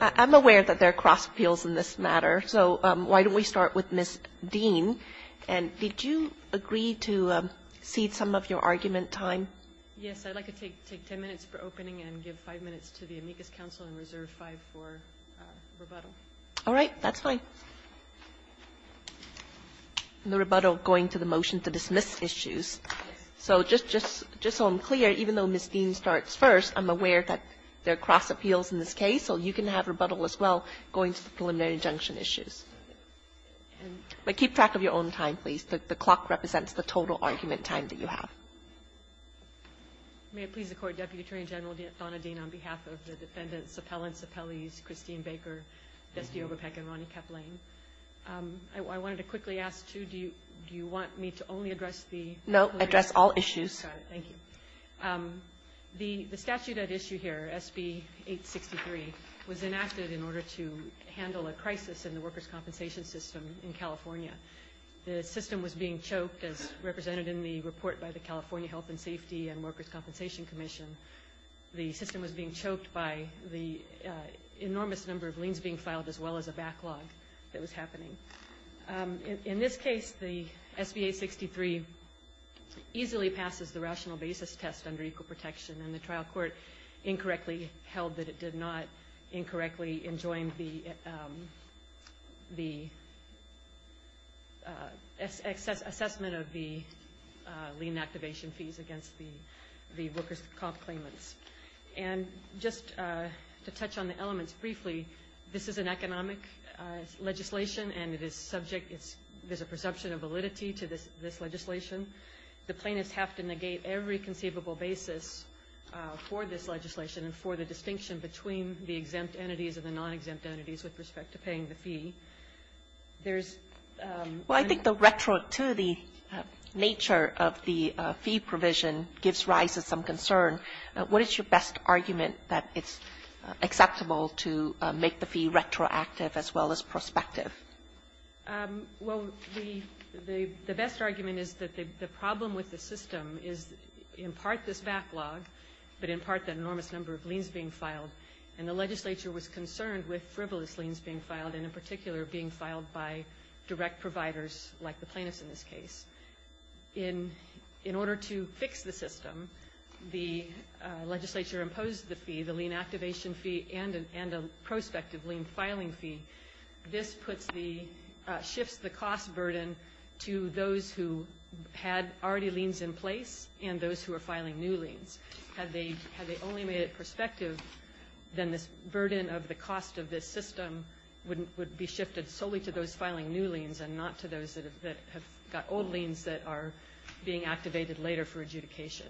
I'm aware that there are cross-appeals in this matter, so why don't we start with Ms. Dean. So just so I'm clear, even though Ms. Dean starts first, I'm aware that there are cross-appeals in this case, so you can have rebuttal as well going to the preliminary injunction issues. But keep track of your arguments. The clock represents the total argument time that you have. May it please the Court, Deputy Attorney General Donna Dean, on behalf of the defendants, appellants, appellees, Christine Baker, Dusty Oberpeck, and Ronnie Kaplan. I wanted to quickly ask, too, do you want me to only address the preliminary? No, address all issues. Got it. Thank you. The statute at issue here, SB 863, was enacted in order to handle a crisis in the workers' compensation system in California. The system was being choked, as represented in the report by the California Health and Safety and Workers' Compensation Commission. The system was being choked by the enormous number of liens being filed, as well as a backlog that was happening. In this case, the SB 863 easily passes the rational basis test under equal protection, and the trial court incorrectly held that it did not, incorrectly enjoined the assessment of the lien activation fees against the workers' comp claimants. And just to touch on the elements briefly, this is an economic legislation, and it is subject, there's a perception of validity to this legislation. The plaintiffs have to negate every conceivable basis for this legislation and for the distinction between the exempt entities and the non-exempt entities with respect to paying the fee. There's – Well, I think the retro to the nature of the fee provision gives rise to some concern. What is your best argument that it's acceptable to make the fee retroactive as well as prospective? Well, the best argument is that the problem with the system is in part this backlog, but in part the enormous number of liens being filed. And the legislature was concerned with frivolous liens being filed, and in particular being filed by direct providers like the plaintiffs in this case. In order to fix the system, the legislature imposed the fee, the lien activation fee, and a prospective lien filing fee. This puts the – shifts the cost burden to those who had already liens in place and those who are filing new liens. Had they only made it prospective, then this burden of the cost of this system would be shifted solely to those filing new liens and not to those that have got old liens that are being activated later for adjudication.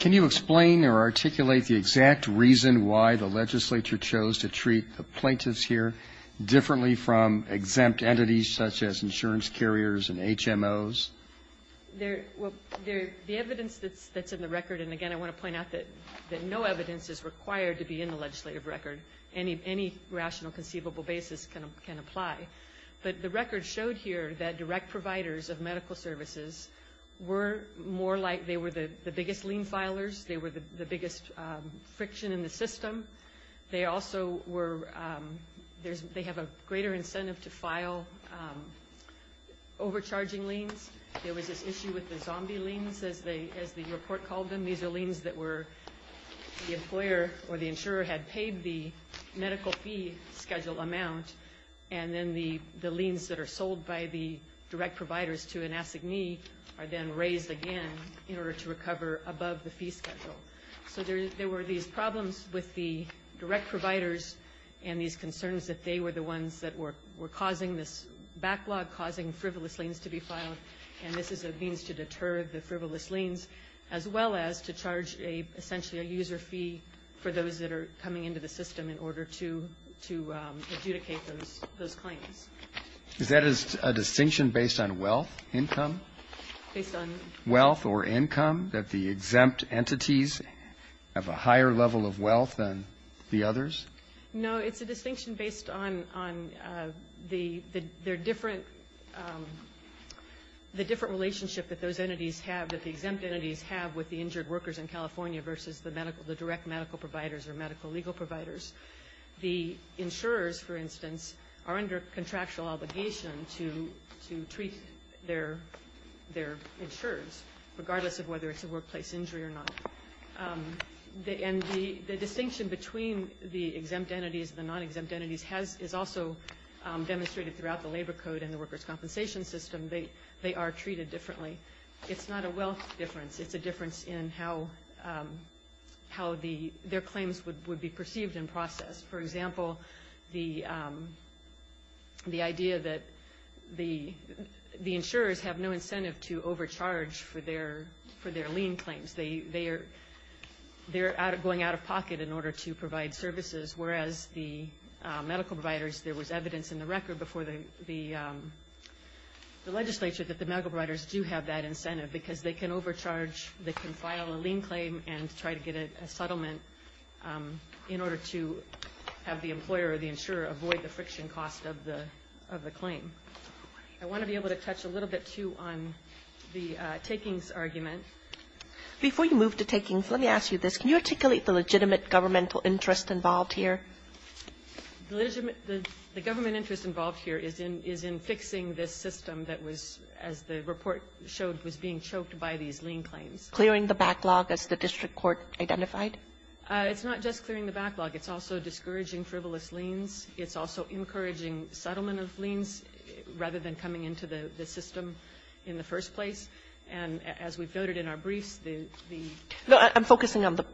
Can you explain or articulate the exact reason why the legislature chose to treat the plaintiffs here differently from exempt entities such as insurance carriers and HMOs? There – well, the evidence that's in the record, and again I want to point out that no evidence is required to be in the legislative record. Any rational conceivable basis can apply. But the record showed here that direct providers of medical services were more like they were the biggest lien filers. They were the biggest friction in the system. They also were – they have a greater incentive to file overcharging liens. There was this issue with the zombie liens, as the report called them. These are liens that were – the employer or the insurer had paid the medical fee schedule amount, and then the liens that are sold by the direct providers to an assignee are then raised again in order to recover above the fee schedule. So there were these problems with the direct providers and these concerns that they were the ones that were causing this backlog, causing frivolous liens to be filed, and this is a means to deter the frivolous liens, as well as to charge essentially a user fee for those that are coming into the system in order to adjudicate those claims. Is that a distinction based on wealth, income? Based on? Wealth or income, that the exempt entities have a higher level of wealth than the others? No, it's a distinction based on the different relationship that those entities have, that the exempt entities have with the injured workers in California versus the direct medical providers or medical legal providers. The insurers, for instance, are under contractual obligation to treat their insurers, regardless of whether it's a workplace injury or not. And the distinction between the exempt entities and the non-exempt entities is also demonstrated throughout the labor code and the workers' compensation system. They are treated differently. It's not a wealth difference. It's a difference in how their claims would be perceived and processed. For example, the idea that the insurers have no incentive to overcharge for their lien claims. They're going out of pocket in order to provide services, whereas the medical providers, there was evidence in the record before the legislature that the medical providers do have that incentive because they can overcharge, they can file a lien claim and try to get a settlement in order to have the employer or the insurer avoid the friction cost of the claim. I want to be able to touch a little bit, too, on the takings argument. Before you move to takings, let me ask you this. Can you articulate the legitimate governmental interest involved here? The government interest involved here is in fixing this system that was, as the report showed, was being choked by these lien claims. Clearing the backlog, as the district court identified? It's not just clearing the backlog. It's also discouraging frivolous liens. It's also encouraging settlement of liens rather than coming into the system in the first place. And as we've noted in our briefs, the ---- No, I'm focusing on the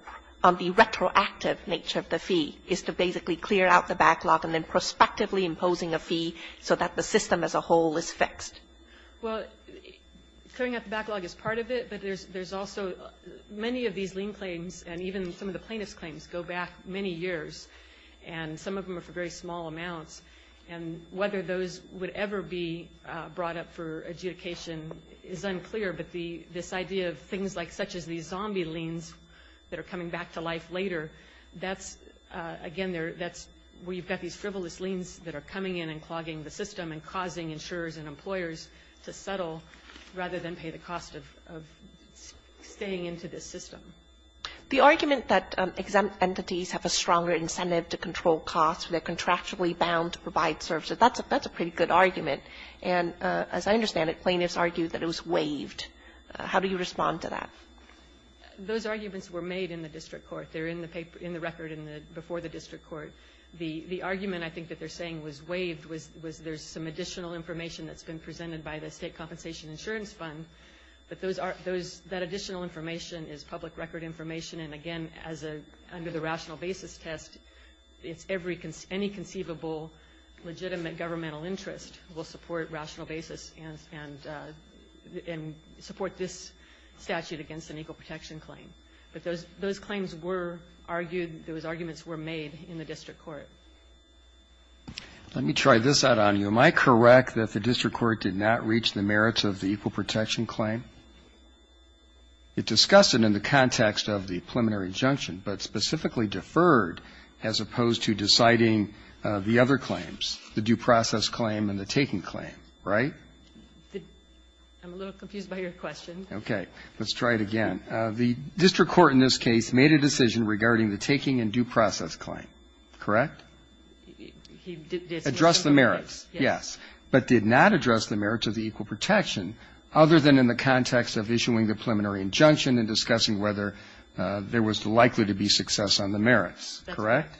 retroactive nature of the fee, is to basically clear out the backlog and then prospectively imposing a fee so that the system as a whole is fixed. Well, clearing up the backlog is part of it, but there's also many of these lien claims and even some of the plaintiff's claims go back many years, and some of them are for very small amounts. And whether those would ever be brought up for adjudication is unclear, but this idea of things like such as these zombie liens that are coming back to life later, that's, again, that's where you've got these frivolous liens that are coming in and clogging the system and causing insurers and employers to settle rather than pay the cost of staying into this system. The argument that exempt entities have a stronger incentive to control costs, they're contractually bound to provide services, that's a pretty good argument. And as I understand it, plaintiffs argue that it was waived. How do you respond to that? Those arguments were made in the district court. They're in the record before the district court. The argument, I think, that they're saying was waived was there's some additional information that's been presented by the State Compensation Insurance Fund, but that additional information is public record information. And, again, under the rational basis test, any conceivable legitimate governmental interest will support rational basis and support this statute against an equal protection claim. But those claims were argued, those arguments were made in the district court. Let me try this out on you. Am I correct that the district court did not reach the merits of the equal protection claim? It discussed it in the context of the preliminary injunction, but specifically deferred as opposed to deciding the other claims, the due process claim and the taking claim, right? I'm a little confused by your question. Okay. Let's try it again. The district court in this case made a decision regarding the taking and due process claim, correct? It addressed the merits, yes, but did not address the merits of the equal protection other than in the context of issuing the preliminary injunction and discussing whether there was likely to be success on the merits, correct?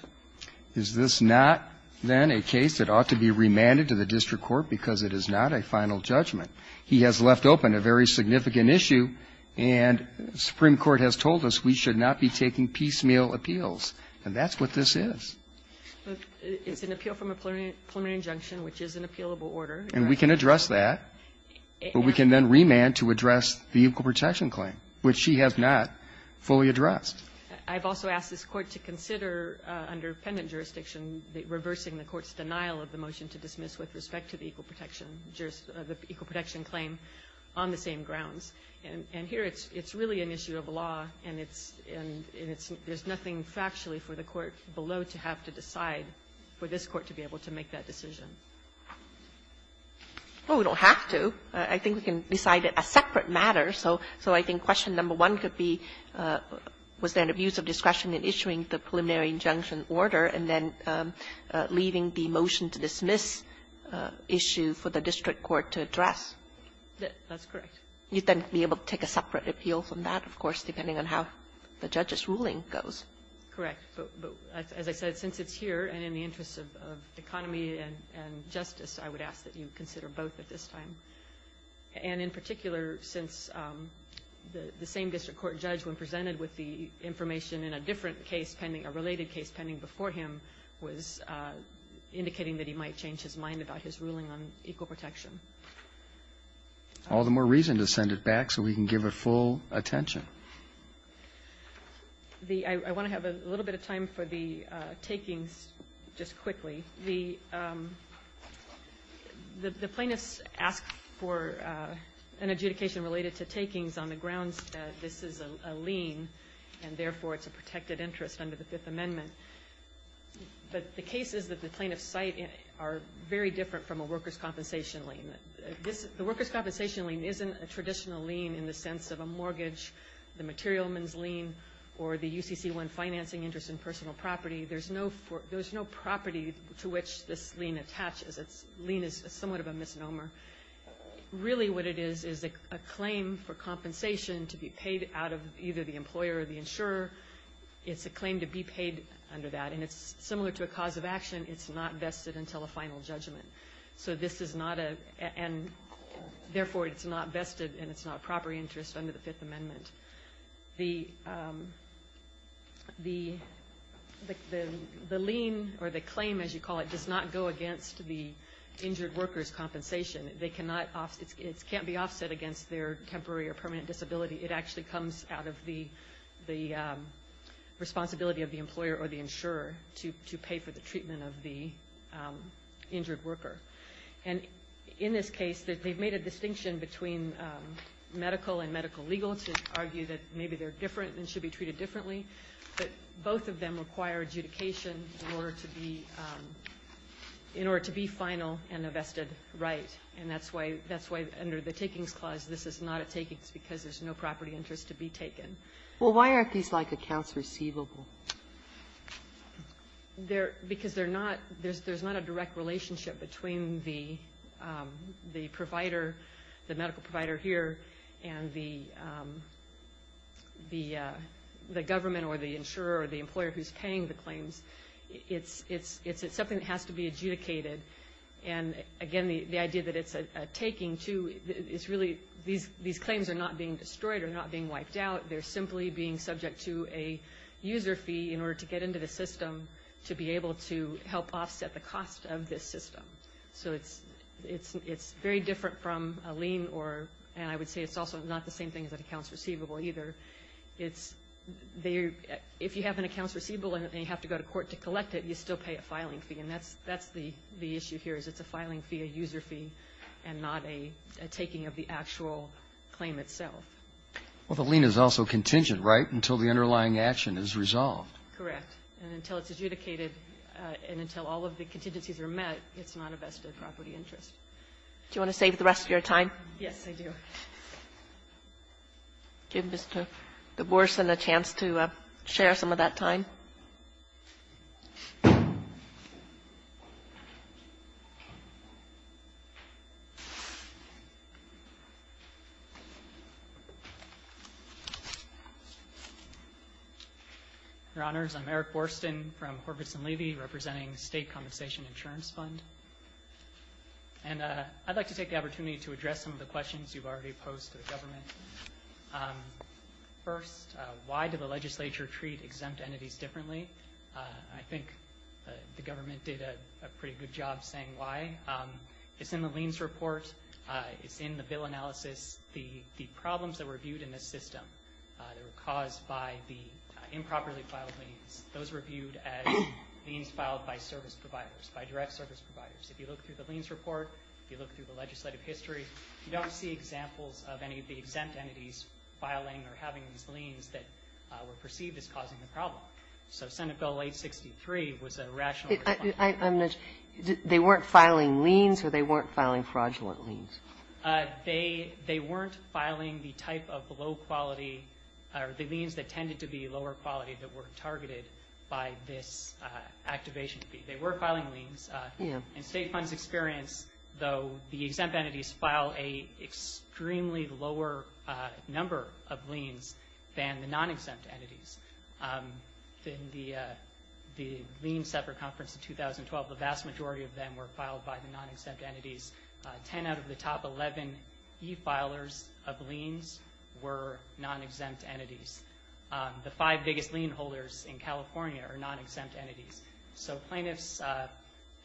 Is this not, then, a case that ought to be remanded to the district court because it is not a final judgment? He has left open a very significant issue, and the Supreme Court has told us we should not be taking piecemeal appeals, and that's what this is. It's an appeal from a preliminary injunction, which is an appealable order. And we can address that, but we can then remand to address the equal protection claim, which she has not fully addressed. I've also asked this Court to consider, under pendant jurisdiction, reversing the Court's denial of the motion to dismiss with respect to the equal protection jurisdiction of the equal protection claim on the same grounds. And here it's really an issue of law, and it's and it's there's nothing factually for the Court below to have to decide for this Court to be able to make that decision. Well, we don't have to. I think we can decide it as a separate matter. So I think question number one could be, was there an abuse of discretion in issuing the preliminary injunction order and then leaving the motion to dismiss issue for the district court to address? That's correct. You'd then be able to take a separate appeal from that, of course, depending on how the judge's ruling goes. Correct. But as I said, since it's here and in the interest of economy and justice, I would consider both at this time. And in particular, since the same district court judge, when presented with the information in a different case pending, a related case pending before him, was indicating that he might change his mind about his ruling on equal protection. All the more reason to send it back so we can give it full attention. I want to have a little bit of time for the takings just quickly. The plaintiffs ask for an adjudication related to takings on the grounds that this is a lien, and therefore it's a protected interest under the Fifth Amendment. But the case is that the plaintiffs cite are very different from a workers' compensation lien. The workers' compensation lien isn't a traditional lien in the sense of a mortgage, the materialman's lien, or the UCC1 financing interest in personal property. There's no property to which this lien attaches. A lien is somewhat of a misnomer. Really what it is is a claim for compensation to be paid out of either the employer or the insurer. It's a claim to be paid under that. And it's similar to a cause of action. It's not vested until a final judgment. So this is not a – and therefore it's not vested and it's not a proper interest under the Fifth Amendment. The lien or the claim, as you call it, does not go against the injured worker's compensation. They cannot – it can't be offset against their temporary or permanent disability. It actually comes out of the responsibility of the employer or the insurer to pay for the treatment of the injured worker. And in this case, they've made a distinction between medical and medical legal to argue that maybe they're different and should be treated differently. But both of them require adjudication in order to be – in order to be final and a vested right. And that's why – that's why under the Takings Clause this is not a takings because there's no property interest to be taken. Well, why aren't these like accounts receivable? Because they're not – there's not a direct relationship between the provider, the medical provider here, and the government or the insurer or the employer who's paying the claims. It's something that has to be adjudicated. And again, the idea that it's a taking, too, is really – these claims are not being destroyed or not being wiped out. They're simply being subject to a user fee in order to get into the system to be able to help offset the cost of this system. So it's very different from a lien or – and I would say it's also not the same thing as an accounts receivable either. It's – if you have an accounts receivable and you have to go to court to collect it, you still pay a filing fee. And that's the issue here is it's a filing fee, a user fee, and not a taking of the actual claim itself. Well, the lien is also contingent, right, until the underlying action is resolved. Correct. And until it's adjudicated and until all of the contingencies are met, it's not a vested property interest. Do you want to save the rest of your time? Yes, I do. Give Mr. DeBorsen a chance to share some of that time. Your Honors, I'm Eric DeBorsen. I'm Eric Borsten from Horvitz & Levy representing State Compensation Insurance Fund. And I'd like to take the opportunity to address some of the questions you've already posed to the government. First, why do the legislature treat exempt entities differently? I think the government did a pretty good job saying why. It's in the liens report. It's in the bill analysis. The problems that were viewed in this system that were caused by the improperly filed liens, those were viewed as liens filed by service providers, by direct service providers. If you look through the liens report, if you look through the legislative history, you don't see examples of any of the exempt entities filing or having these liens that were perceived as causing the problem. So Senate Bill 863 was a rational response. I'm not sure. They weren't filing liens or they weren't filing fraudulent liens? They weren't filing the type of low-quality or the liens that tended to be lower-quality that were targeted by this activation fee. They were filing liens. In State Fund's experience, though, the exempt entities file an extremely lower number of liens than the non-exempt entities. In the lien separate conference in 2012, the vast majority of them were filed by the non-exempt entities. Ten out of the top 11 e-filers of liens were non-exempt entities. The five biggest lien holders in California are non-exempt entities. So plaintiffs'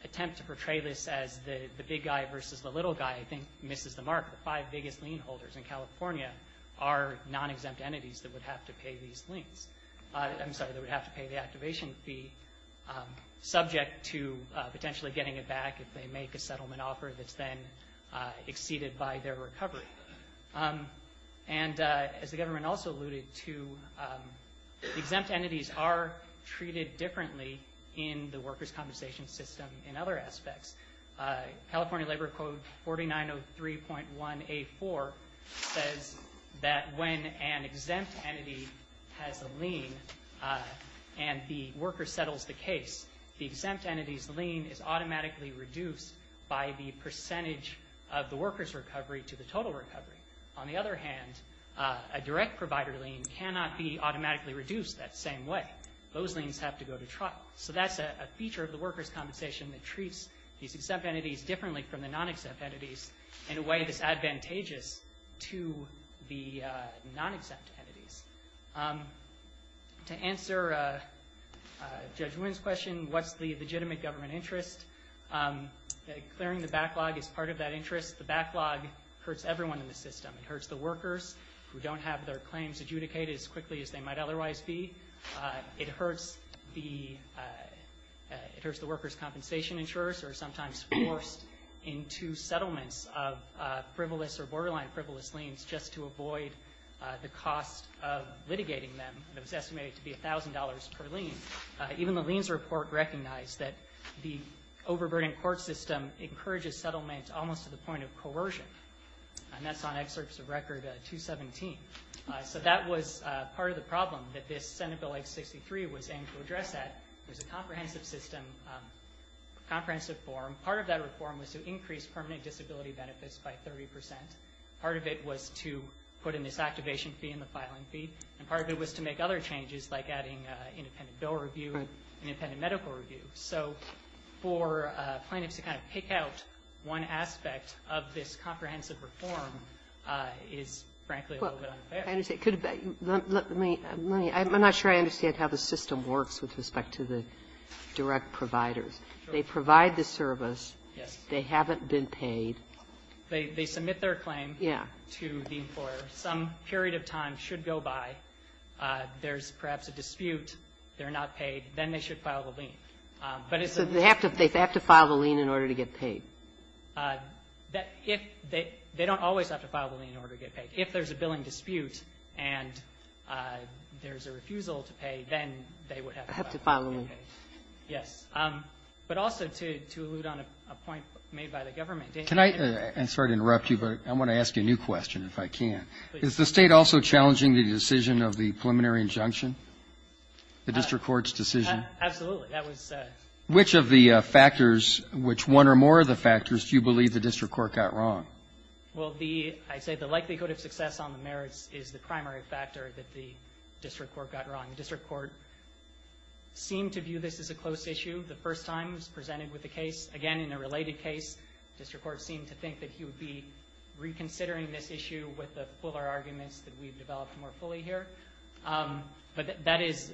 attempt to portray this as the big guy versus the little guy, I think, misses the mark. The five biggest lien holders in California are non-exempt entities that would have to pay these liens. I'm sorry, that would have to pay the activation fee, subject to potentially getting it back if they make a settlement offer that's then exceeded by their recovery. And as the government also alluded to, exempt entities are treated differently in the workers' compensation system in other aspects. California Labor Code 4903.1A4 says that when an exempt entity has a lien and the worker settles the case, the exempt entity's lien is automatically reduced by the percentage of the worker's recovery to the total recovery. On the other hand, a direct provider lien cannot be automatically reduced that same way. Those liens have to go to trial. So that's a feature of the workers' compensation that treats these exempt entities differently from the non-exempt entities in a way that's advantageous to the non-exempt entities. To answer Judge Wynn's question, what's the legitimate government interest, clearing the backlog is part of that interest. The backlog hurts everyone in the system. It hurts the workers who don't have their claims adjudicated as quickly as they might otherwise be. It hurts the workers' compensation insurers who are sometimes forced into settlements of frivolous or borderline frivolous liens just to avoid the cost of litigating them. It was estimated to be $1,000 per lien. Even the liens report recognized that the overburdened court system encourages settlement almost to the point of coercion. And that's on excerpts of Record 217. So that was part of the problem that this Senate Bill 863 was aimed to address at. It was a comprehensive system, comprehensive form. Part of that reform was to increase permanent disability benefits by 30%. Part of it was to put in this activation fee and the filing fee. And part of it was to make other changes like adding independent bill review and independent medical review. So for plaintiffs to kind of pick out one aspect of this comprehensive reform is, frankly, a little bit unfair. Kagan. I'm not sure I understand how the system works with respect to the direct providers. They provide the service. Yes. They haven't been paid. They submit their claim to the employer. Some period of time should go by. There's perhaps a dispute. They're not paid. Then they should file the lien. So they have to file the lien in order to get paid? They don't always have to file the lien in order to get paid. If there's a billing dispute and there's a refusal to pay, then they would have to file the lien. Have to file the lien. Yes. But also to allude on a point made by the government. Can I? I'm sorry to interrupt you, but I want to ask you a new question if I can. Is the State also challenging the decision of the preliminary injunction? The district court's decision? Absolutely. Which of the factors, which one or more of the factors do you believe the district court got wrong? Well, I'd say the likelihood of success on the merits is the primary factor that the district court got wrong. The district court seemed to view this as a close issue the first time it was presented with the case. Again, in a related case, the district court seemed to think that he would be reconsidering this issue with the fuller arguments that we've developed more fully here. But that is,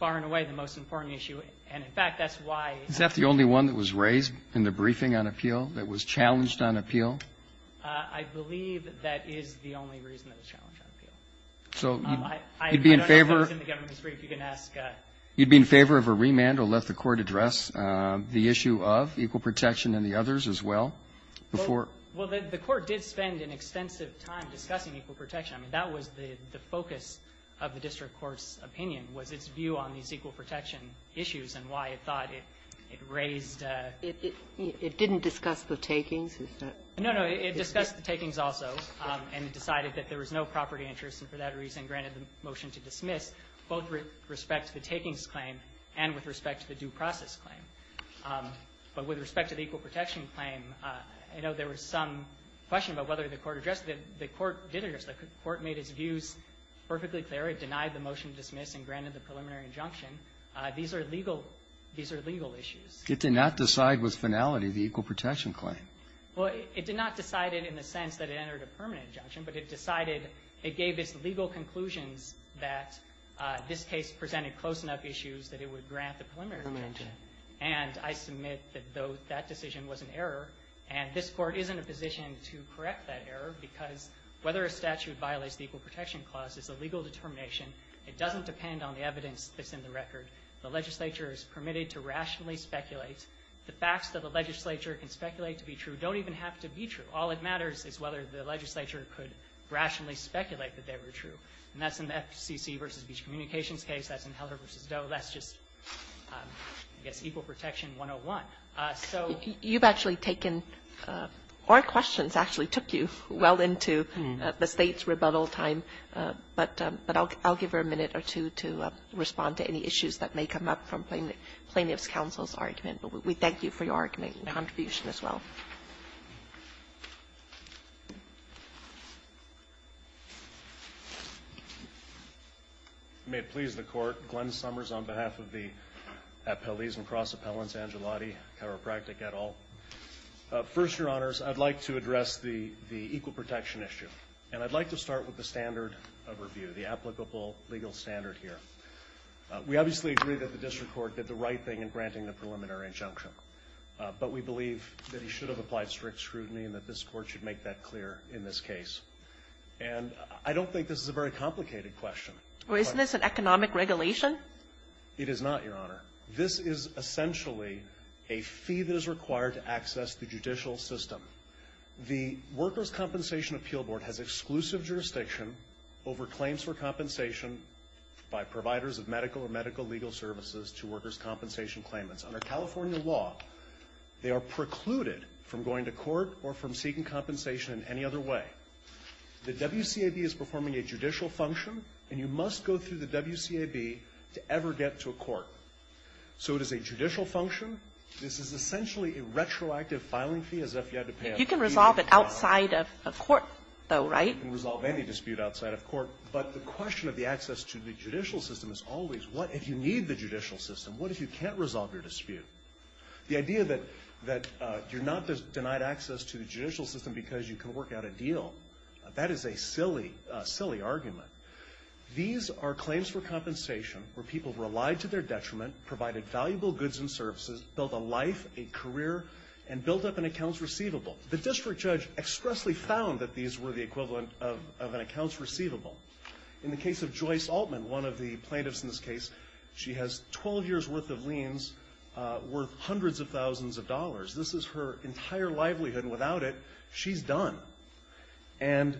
far and away, the most important issue. And, in fact, that's why. Is that the only one that was raised in the briefing on appeal that was challenged on appeal? I believe that is the only reason that was challenged on appeal. I don't know if that was in the government's brief. You can ask. You'd be in favor of a remand or let the court address the issue of equal protection and the others as well before? Well, the court did spend an extensive time discussing equal protection. I mean, that was the focus of the district court's opinion was its view on these equal protection issues and why it thought it raised. It didn't discuss the takings? No, no. It discussed the takings also, and it decided that there was no property interest, and for that reason granted the motion to dismiss both with respect to the takings claim and with respect to the due process claim. But with respect to the equal protection claim, I know there was some question about whether the court addressed it. The court did address it. The court made its views perfectly clear. It denied the motion to dismiss and granted the preliminary injunction. These are legal. These are legal issues. It did not decide with finality the equal protection claim? Well, it did not decide it in the sense that it entered a permanent injunction, but it decided it gave its legal conclusions that this case presented close enough issues that it would grant the preliminary injunction. And I submit that that decision was an error, and this court is in a position to correct that error because whether a statute violates the equal protection clause is a legal determination. It doesn't depend on the evidence that's in the record. The legislature is permitted to rationally speculate. The facts that the legislature can speculate to be true don't even have to be true. All that matters is whether the legislature could rationally speculate that they were true. And that's in the FCC v. Beach Communications case. That's in Heller v. Doe. That's just, I guess, equal protection 101. So you've actually taken or questions actually took you well into the State's rebuttal time. But I'll give her a minute or two to respond to any issues that may come up from Plaintiff's counsel's argument. But we thank you for your argument and contribution as well. Thank you. May it please the Court. Glenn Summers on behalf of the Appellees and Cross Appellants, Angelotti, Chiropractic, et al. First, Your Honors, I'd like to address the equal protection issue. And I'd like to start with the standard of review, the applicable legal standard here. We obviously agree that the district court did the right thing in granting the preliminary injunction. But we believe that he should have applied strict scrutiny and that this Court should make that clear in this case. And I don't think this is a very complicated question. Well, isn't this an economic regulation? It is not, Your Honor. This is essentially a fee that is required to access the judicial system. The Workers' Compensation Appeal Board has exclusive jurisdiction over claims for compensation by providers of medical or medical legal services to workers' compensation claimants. Under California law, they are precluded from going to court or from seeking compensation in any other way. The WCAB is performing a judicial function, and you must go through the WCAB to ever get to a court. So it is a judicial function. This is essentially a retroactive filing fee as if you had to pay a fee. You can resolve it outside of court, though, right? You can resolve any dispute outside of court. But the question of the access to the judicial system is always, what if you need the judicial system? What if you can't resolve your dispute? The idea that you're not denied access to the judicial system because you can work out a deal, that is a silly, silly argument. These are claims for compensation where people relied to their detriment, provided valuable goods and services, built a life, a career, and built up an accounts receivable. The district judge expressly found that these were the equivalent of an accounts receivable. In the case of Joyce Altman, one of the plaintiffs in this case, she has 12 years' worth of liens worth hundreds of thousands of dollars. This is her entire livelihood, and without it, she's done. And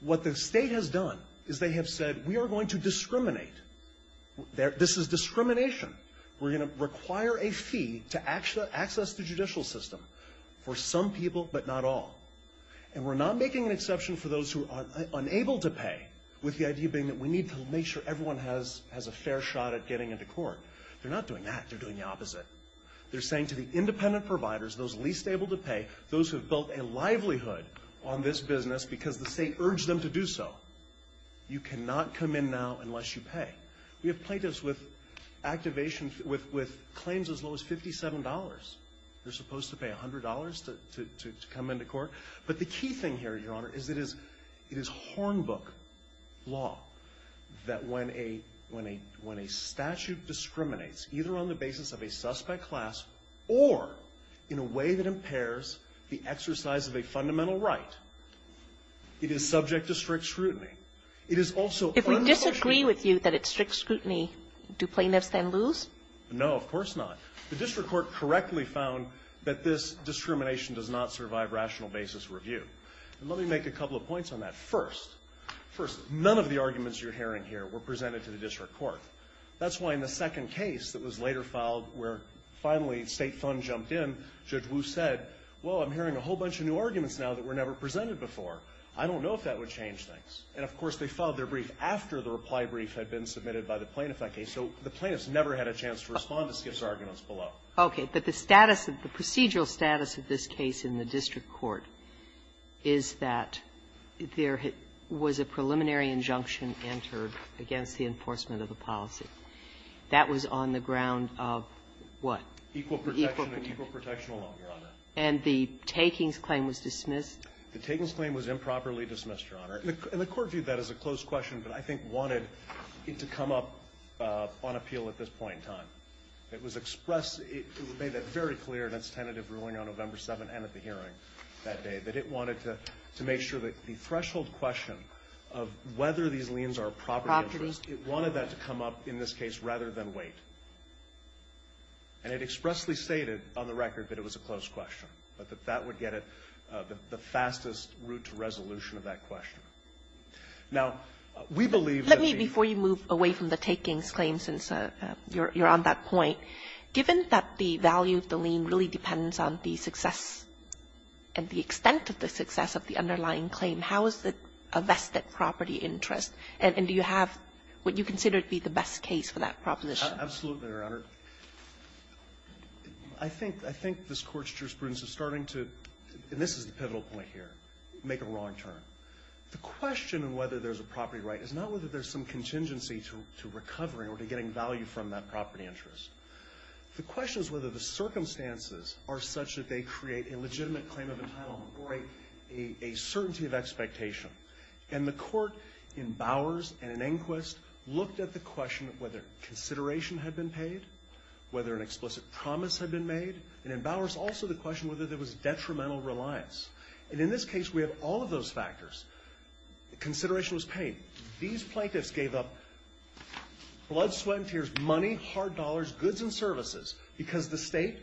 what the state has done is they have said, we are going to discriminate. This is discrimination. We're going to require a fee to access the judicial system for some people, but not all. And we're not making an exception for those who are unable to pay with the idea being that we need to make sure everyone has a fair shot at getting into court. They're not doing that. They're doing the opposite. They're saying to the independent providers, those least able to pay, those who have built a livelihood on this business because the state urged them to do so, you cannot come in now unless you pay. We have plaintiffs with claims as low as $57. They're supposed to pay $100 to come into court. But the key thing here, Your Honor, is it is hornbook law that when a statute discriminates either on the basis of a suspect class or in a way that impairs the exercise of a fundamental right, it is subject to strict scrutiny. It is also... If we disagree with you that it's strict scrutiny, do plaintiffs then lose? No, of course not. The district court correctly found that this discrimination does not survive rational basis review. Let me make a couple of points on that. First, none of the arguments you're hearing here were presented to the district court. That's why in the second case that was later filed where finally State Fund jumped in, Judge Wu said, well, I'm hearing a whole bunch of new arguments now that were never presented before. I don't know if that would change things. And of course they filed their brief after the reply brief had been submitted by the plaintiff. So the plaintiffs never had a chance to respond to Skiff's arguments below. Okay. But the status of the procedural status of this case in the district court is that there was a preliminary injunction entered against the enforcement of the policy. That was on the ground of what? Equal protection and equal protection alone, Your Honor. And the takings claim was dismissed? The takings claim was improperly dismissed, Your Honor. And the court viewed that as a closed question but I think wanted it to come up on appeal at this point in time. It was expressed. It was made very clear in its tentative ruling on November 7th and at the hearing that it wanted to make sure that the threshold question of whether these liens are a property interest wanted that to come up in this case rather than wait. And it expressly stated on the record that it was a closed question but that that would get it the fastest route to resolution of that question. Now, we believe that the Let me, before you move away from the takings claim since you're on that point, given that the value of the lien really depends on the success and the extent of the success of the underlying claim, how is it a vested property interest? And do you have what you consider to be the best case for that proposition? Absolutely, Your Honor. I think this Court's jurisprudence is starting to, and this is the pivotal point here, make a wrong turn. The question of whether there's a property right is not whether there's some contingency to recovering or to getting value from that property interest. The question is whether the circumstances are such that they create a legitimate claim of entitlement or a certainty of expectation. And the Court, in Bowers and in Enquist, looked at the question of whether consideration had been paid, whether an explicit promise had been made, and in Bowers also the question whether there was detrimental reliance. And in this case, we have all of those factors. Consideration was paid. These plaintiffs gave up blood, sweat and tears, money, hard dollars, goods and services because the State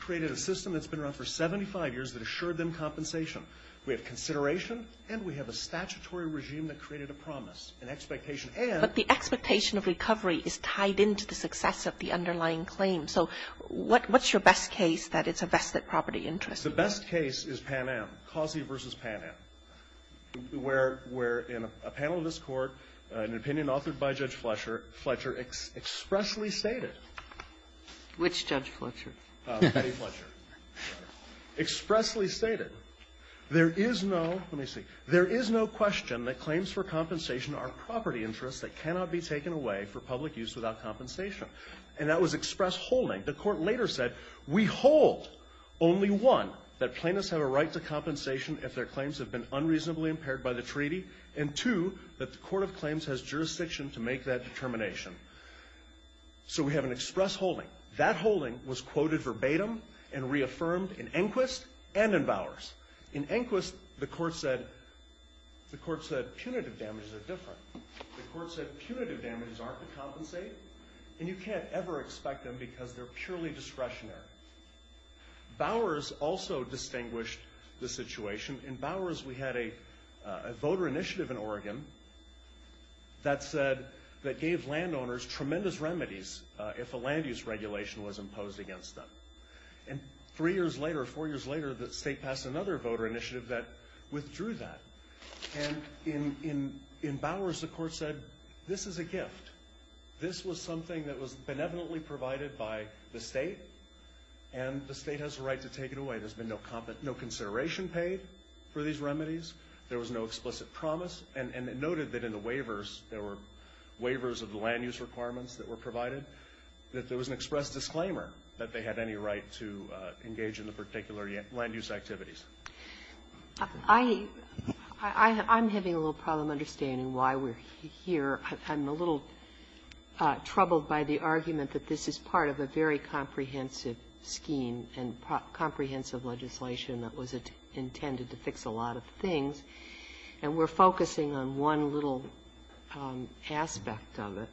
created a system that's been around for 75 years that assured them compensation. We have consideration, and we have a statutory regime that created a promise, an expectation. But the expectation of recovery is tied into the success of the underlying claim. So what's your best case that it's a vested property interest? The best case is Pan Am, Causey v. Pan Am, where in a panel in this Court, an opinion authored by Judge Fletcher expressly stated. Which Judge Fletcher? Betty Fletcher. Expressly stated, there is no question that claims for compensation are property interests that cannot be taken away for public use without compensation. And that was express holding. The Court later said, we hold only one that plaintiffs have a right to compensation if their claims have been unreasonably impaired by the treaty, and two, that the Court of Claims has jurisdiction to make that determination. So we have an express holding. That holding was quoted verbatim and reaffirmed in Enquist and in Bowers. In Enquist, the Court said punitive damages are different. The Court said punitive damages aren't to compensate and you can't ever expect them because they're purely discretionary. Bowers also distinguished the situation. In Bowers, we had a voter initiative in Oregon that said, that gave landowners tremendous remedies if a land use regulation was imposed against them. And three years later, four years later, the state passed another voter initiative that withdrew that. And in Bowers, the Court said, this is a gift. This was something that was benevolently provided by the state, and the state has the right to take it away. There's been no consideration paid for these remedies. There was no explicit promise. And it noted that in the waivers, there were waivers of the land use requirements that were provided, that there was an express disclaimer that they had any right to engage in the particular land use activities. I'm having a little problem understanding why we're here. I'm a little troubled by the argument that this is part of a very comprehensive scheme and comprehensive legislation that was intended to fix a lot of things. And we're focusing on one little aspect of it.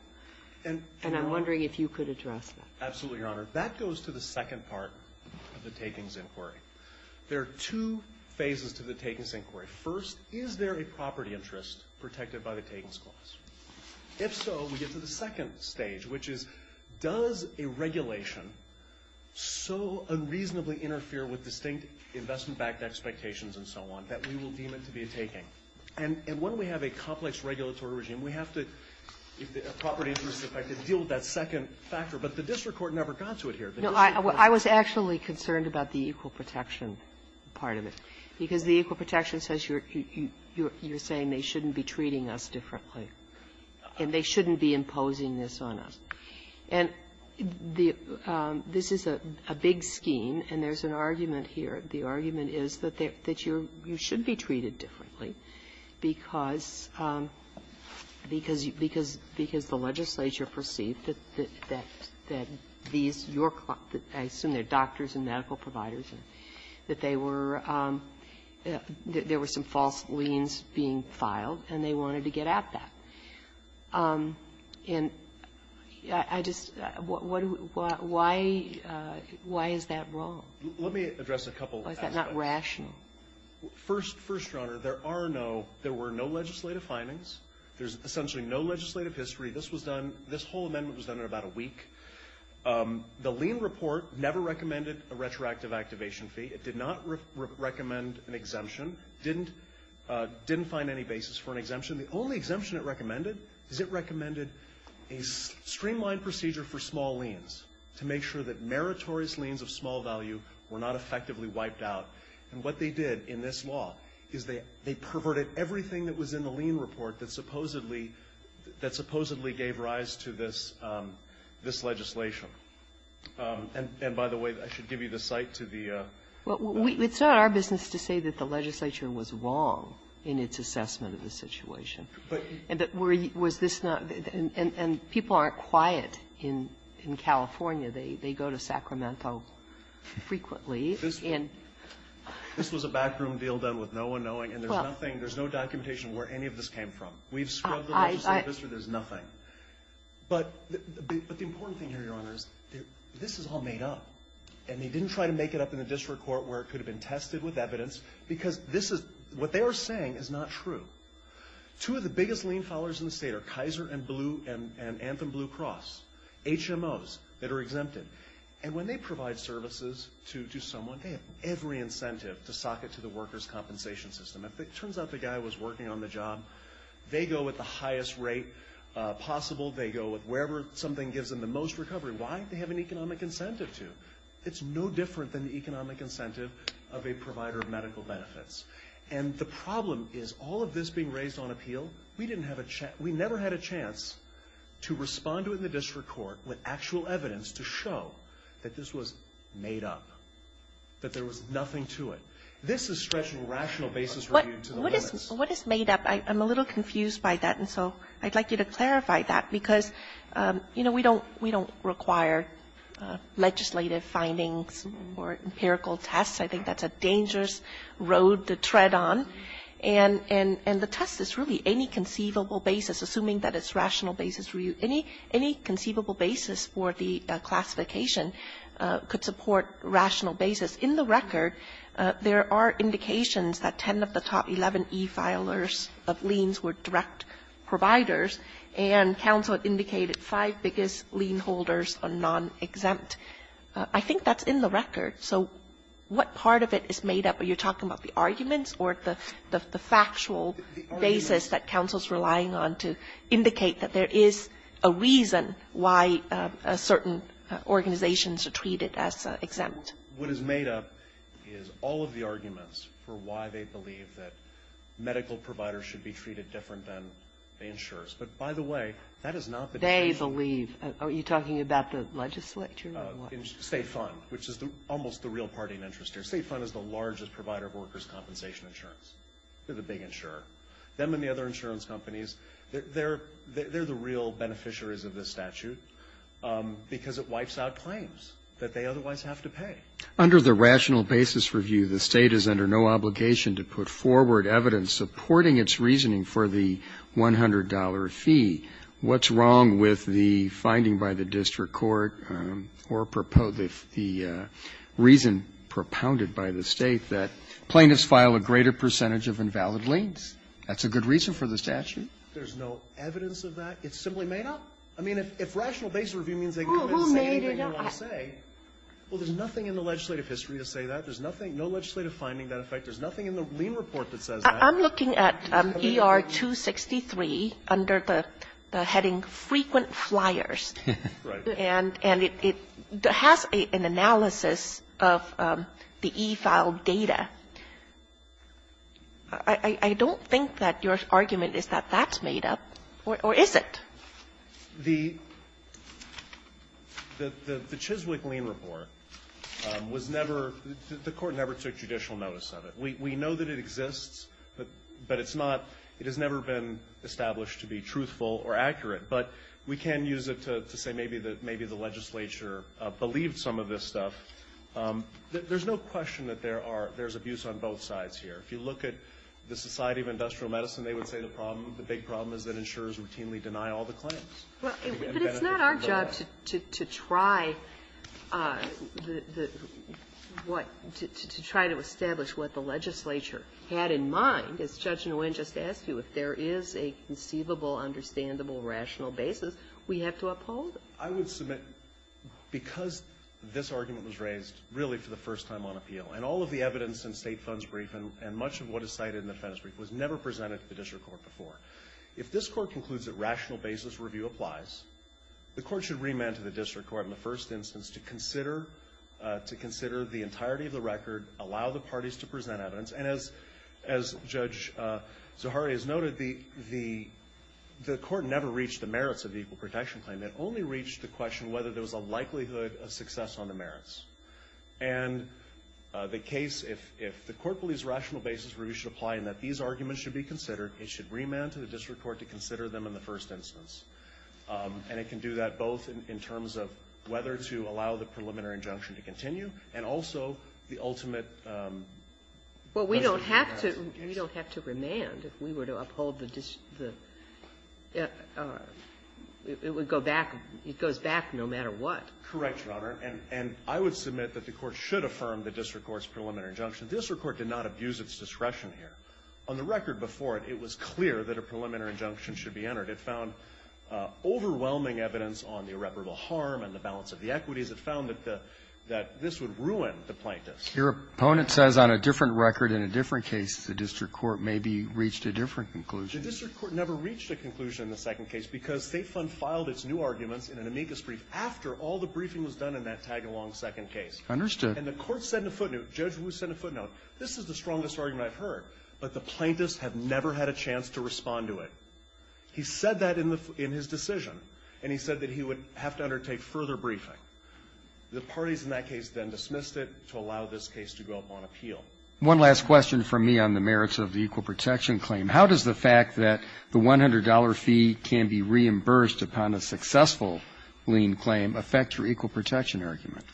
And I'm wondering if you could address that. Absolutely, Your Honor. That goes to the second part of the Takings Inquiry. There are two phases to the Takings Inquiry. First, is there a property interest protected by the Takings Clause? If so, we get to the second stage, which is does a regulation so unreasonably interfere with distinct investment-backed expectations and so on that we will deem it to be a taking? And when we have a complex regulatory regime, we have to, if the property interest is affected, deal with that second factor. But the district court never got to it here. No, I was actually concerned about the equal protection part of it, because the equal protection says you're saying they shouldn't be treating us differently, and they shouldn't be imposing this on us. And the this is a big scheme, and there's an argument here. The argument is that they're that you're you should be treated differently because because because because the legislature perceived that that that these your I assume they're doctors and medical providers and that they were there were some false liens being filed, and they should be treated differently. And I just what why why is that wrong? Let me address a couple aspects. Why is that not rational? First, Your Honor, there are no there were no legislative findings. There's essentially no legislative history. This was done this whole amendment was done in about a week. The lien report never recommended a retroactive activation fee. It did not recommend an exemption. Didn't didn't find any basis for an exemption. The only exemption it recommended is it recommended a streamlined procedure for small liens to make sure that meritorious liens of small value were not effectively wiped out. And what they did in this law is they they perverted everything that was in the lien report that supposedly that supposedly gave rise to this this legislation. And and by the way, I should give you the site to the It's not our business to say that the legislature was wrong in its assessment of the situation. But Was this not and people aren't quiet in in California. They they go to Sacramento frequently and This was a backroom deal done with no one knowing and there's nothing there's no documentation where any of this came from. We've scrubbed the legislative history. There's nothing. But the important thing here, Your Honor, is this is all made up and they didn't try to make it up in the district court where it could have been tested with evidence because this is what they were saying is not true. Two of the biggest lien followers in the state are Kaiser and Blue and Anthem Blue Cross, HMOs that are exempted. And when they provide services to someone, they have every incentive to sock it to the workers' compensation system. If it turns out the guy was working on the job, they go with the highest rate possible. They go with wherever something gives them the most recovery. Why? They have an economic incentive to. It's no different than the economic incentive of a provider of medical benefits. And the problem is all of this being raised on appeal, we didn't have a chance, we never had a chance to respond to it in the district court with actual evidence to show that this was made up, that there was nothing to it. This is stretching rational basis review to the limits. What is made up? I'm a little confused by that and so I'd like you to clarify that because, you know, we don't require legislative findings or empirical tests. I think that's a dangerous road to tread on. And the test is really any conceivable basis, assuming that it's rational basis review. Any conceivable basis for the classification could support rational basis. In the record, there are indications that 10 of the top 11 e-filers of liens were direct providers, and counsel indicated five biggest lien holders are non-exempt. I think that's a I think that's in the record. So what part of it is made up? Are you talking about the arguments or the factual basis that counsel is relying on to indicate that there is a reason why certain organizations are treated as exempt? What is made up is all of the arguments for why they believe that medical providers should be treated different than the insurers. But by the way, that is not the definition. They believe. Are you talking about the legislature or what? State fund, which is almost the real party in interest here. State fund is the largest provider of workers' compensation insurance. They're the big insurer. Them and the other insurance companies, they're the real beneficiaries of this statute because it wipes out claims that they otherwise have to pay. Under the rational basis review, the State is under no obligation to put forward evidence supporting its reasoning for the $100 fee. What's wrong with the finding by the district court or the reason propounded by the State that plaintiffs file a greater percentage of invalid liens? That's a good reason for the statute. There's no evidence of that. It simply made up. I mean, if rational basis review means they can come in and say anything they want to say, well, there's nothing in the legislative history to say that. There's nothing, no legislative finding to that effect. There's nothing in the lien report that says that. I'm looking at ER 263 under the heading frequent flyers. Right. And it has an analysis of the e-filed data. I don't think that your argument is that that's made up, or is it? The Chiswick lien report was never the court never took judicial notice of it. We know that it exists, but it's not it has never been established to be truthful or accurate. But we can use it to say maybe the legislature believed some of this stuff. There's no question that there are there's abuse on both sides here. If you look at the Society of Industrial Medicine, they would say the problem, the big problem is that insurers routinely deny all the claims. Well, but it's not our job to try what to try to establish what the legislature had in mind. As Judge Nguyen just asked you, if there is a conceivable, understandable, rational basis, we have to uphold it. I would submit because this argument was raised really for the first time on appeal, and all of the evidence in State Funds Brief and much of what is cited in the Defense Brief was never presented to the district court before, if this court concludes that rational basis review applies, the court should remand to the district court in the first instance to consider the entirety of the record, allow the parties to present evidence, and as Judge Zahari has noted, the court never reached the merits of the Equal Protection Claim. It only reached the question whether there was a likelihood of success on the merits. And the case, if the court believes rational basis review should apply and that these arguments should be considered, it should remand to the district court to consider them in the first instance. And it can do that both in terms of whether to allow the preliminary injunction to continue and also the Ginsburg. We don't have to remand. If we were to uphold the dis the it would go back it goes back no matter what. Correct, Your Honor. And I would submit that the court should affirm the district court's preliminary injunction. This court did not abuse its discretion here. On the record before it, it was clear that a preliminary injunction should be entered. It found overwhelming evidence on the irreparable harm and the balance of the equities. It found that the that this would ruin the plaintiffs. Your opponent says on a different record in a different case the district court maybe reached a different conclusion. The district court never reached a conclusion in the second case because State Fund filed its new arguments in an amicus brief after all the briefing was done in that tag-along second case. Understood. And the court sent a footnote. Judge Wu sent a footnote. This is the strongest argument I've heard, but the plaintiffs have never had a chance to respond to it. He said that in the in his decision, and he said that he would have to undertake a further briefing. The parties in that case then dismissed it to allow this case to go up on appeal. One last question from me on the merits of the equal protection claim. How does the fact that the $100 fee can be reimbursed upon a successful lien claim affect your equal protection argument?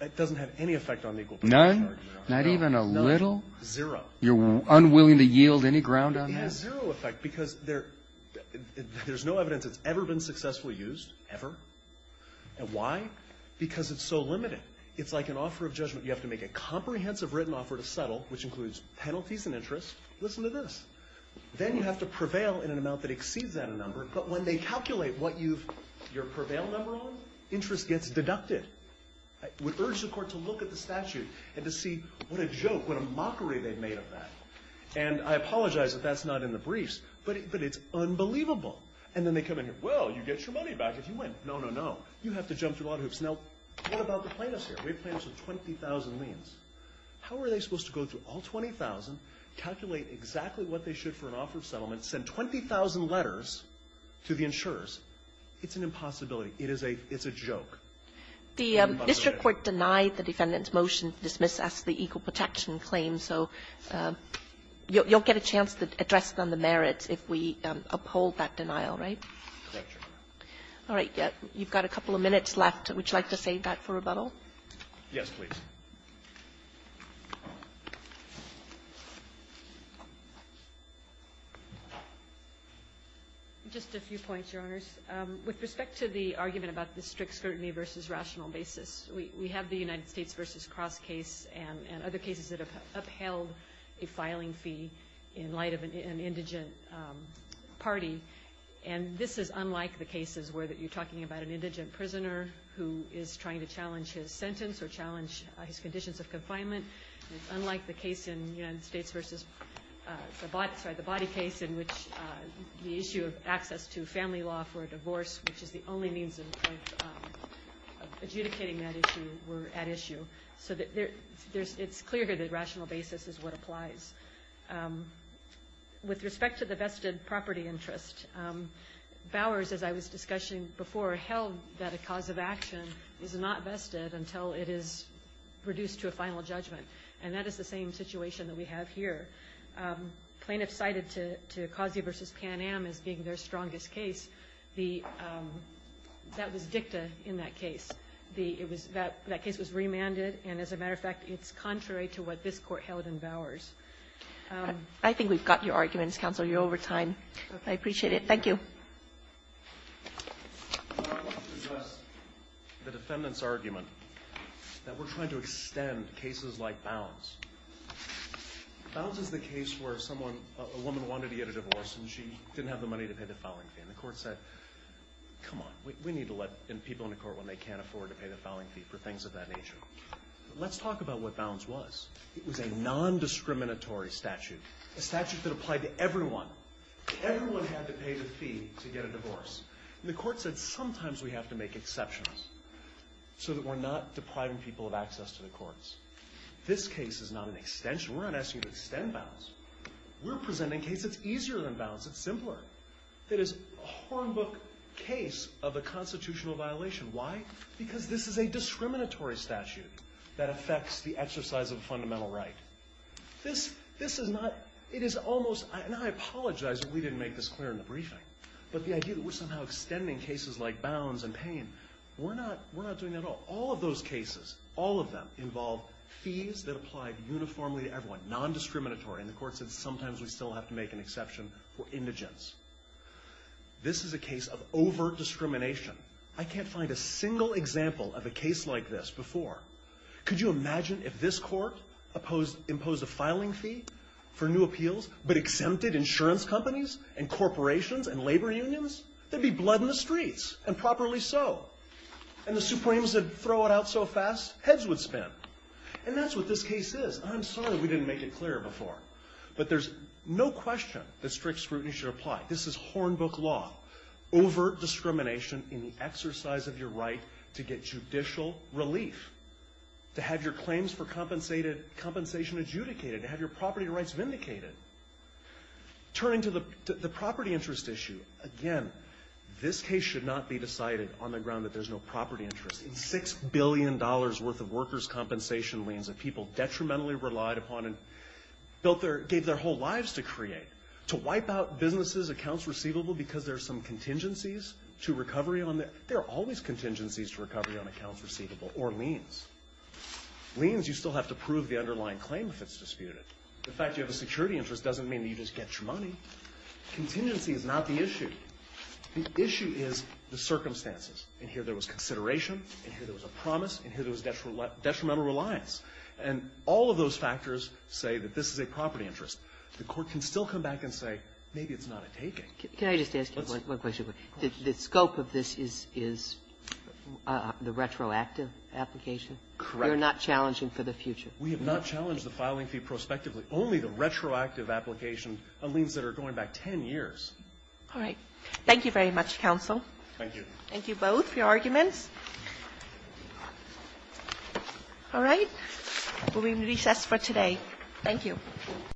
It doesn't have any effect on the equal protection argument. None? Not even a little? Zero. You're unwilling to yield any ground on that? It has zero effect because there's no evidence it's ever been successfully used, ever. And why? Because it's so limited. It's like an offer of judgment. You have to make a comprehensive written offer to settle, which includes penalties and interest. Listen to this. Then you have to prevail in an amount that exceeds that number, but when they calculate what you've your prevail number on, interest gets deducted. I would urge the Court to look at the statute and to see what a joke, what a mockery they've made of that. And I apologize if that's not in the briefs, but it's unbelievable. And then they come in here, well, you get your money back if you win. No, no, no. You have to jump through a lot of hoops. Now, what about the plaintiffs here? We have plaintiffs with 20,000 liens. How are they supposed to go through all 20,000, calculate exactly what they should for an offer of settlement, send 20,000 letters to the insurers? It's an impossibility. It is a joke. The district court denied the defendant's motion to dismiss as the equal protection claim, so you'll not get a chance to address them the merits if we uphold that denial, right? All right. You've got a couple of minutes left. Would you like to save that for rebuttal? Yes, please. Just a few points, Your Honors. With respect to the argument about the strict scrutiny versus rational basis, we have the United States v. Cross case and other cases that have held a filing fee in light of an indigent party, and this is unlike the cases where you're talking about an indigent prisoner who is trying to challenge his sentence or challenge his conditions of confinement, unlike the case in the United States versus the body case in which the issue of access to family law for a divorce, which is the only means of adjudicating that issue, were at issue. So it's clear here that rational basis is what applies. With respect to the vested property interest, Bowers, as I was discussing before, held that a cause of action is not vested until it is reduced to a final judgment, and that is the same situation that we have here. Plaintiffs cited to Kazia v. Pan Am as being their strongest case. That was dicta in that case. That case was remanded, and as a matter of fact, it's contrary to what this Court held in Bowers. Kagan. I think we've got your arguments, Counselor. You're over time. I appreciate it. Thank you. The defendant's argument that we're trying to extend cases like Bounce. Bounce is the case where someone, a woman wanted to get a divorce, and she didn't have the money to pay the filing fee. And the Court said, come on, we need to let people into court when they can't afford to pay the filing fee for things of that nature. Let's talk about what Bounce was. It was a nondiscriminatory statute, a statute that applied to everyone. Everyone had to pay the fee to get a divorce. And the Court said, sometimes we have to make exceptions so that we're not depriving people of access to the courts. This case is not an extension. We're not asking you to extend Bounce. We're presenting a case that's easier than Bounce. It's simpler. It is a hornbook case of a constitutional violation. Why? Because this is a discriminatory statute that affects the exercise of a fundamental right. This is not, it is almost, and I apologize if we didn't make this clear in the briefing, but the idea that we're somehow extending cases like Bounce and Payne, we're not doing that at all. All of those cases, all of them, involve fees that apply uniformly to everyone, nondiscriminatory. And the Court said, sometimes we still have to make an exception for indigents. This is a case of overt discrimination. I can't find a single example of a case like this before. Could you imagine if this Court imposed a filing fee for new appeals, but exempted insurance companies and corporations and labor unions? There'd be blood in the streets, and properly so. And the Supremes would throw it out so fast, heads would spin. And that's what this case is. I'm sorry we didn't make it clear before. But there's no question that strict scrutiny should apply. This is hornbook law. Overt discrimination in the exercise of your right to get judicial relief. To have your claims for compensation adjudicated. To have your property rights vindicated. Turning to the property interest issue. Again, this case should not be decided on the ground that there's no property interest. And $6 billion worth of workers' compensation liens that people detrimentally relied upon and gave their whole lives to create. To wipe out businesses' accounts receivable because there's some contingencies to recovery on that. There are always contingencies to recovery on accounts receivable, or liens. Liens, you still have to prove the underlying claim if it's disputed. The fact you have a security interest doesn't mean that you just get your money. Contingency is not the issue. The issue is the circumstances. And here there was consideration, and here there was a promise, and here there was detrimental reliance. And all of those factors say that this is a property interest. The Court can still come back and say, maybe it's not a taking. Can I just ask you one question? The scope of this is the retroactive application? Correct. You're not challenging for the future? We have not challenged the filing fee prospectively. Only the retroactive application on liens that are going back 10 years. All right. Thank you very much, counsel. Thank you. Thank you both for your arguments. All right. We will recess for today. Thank you.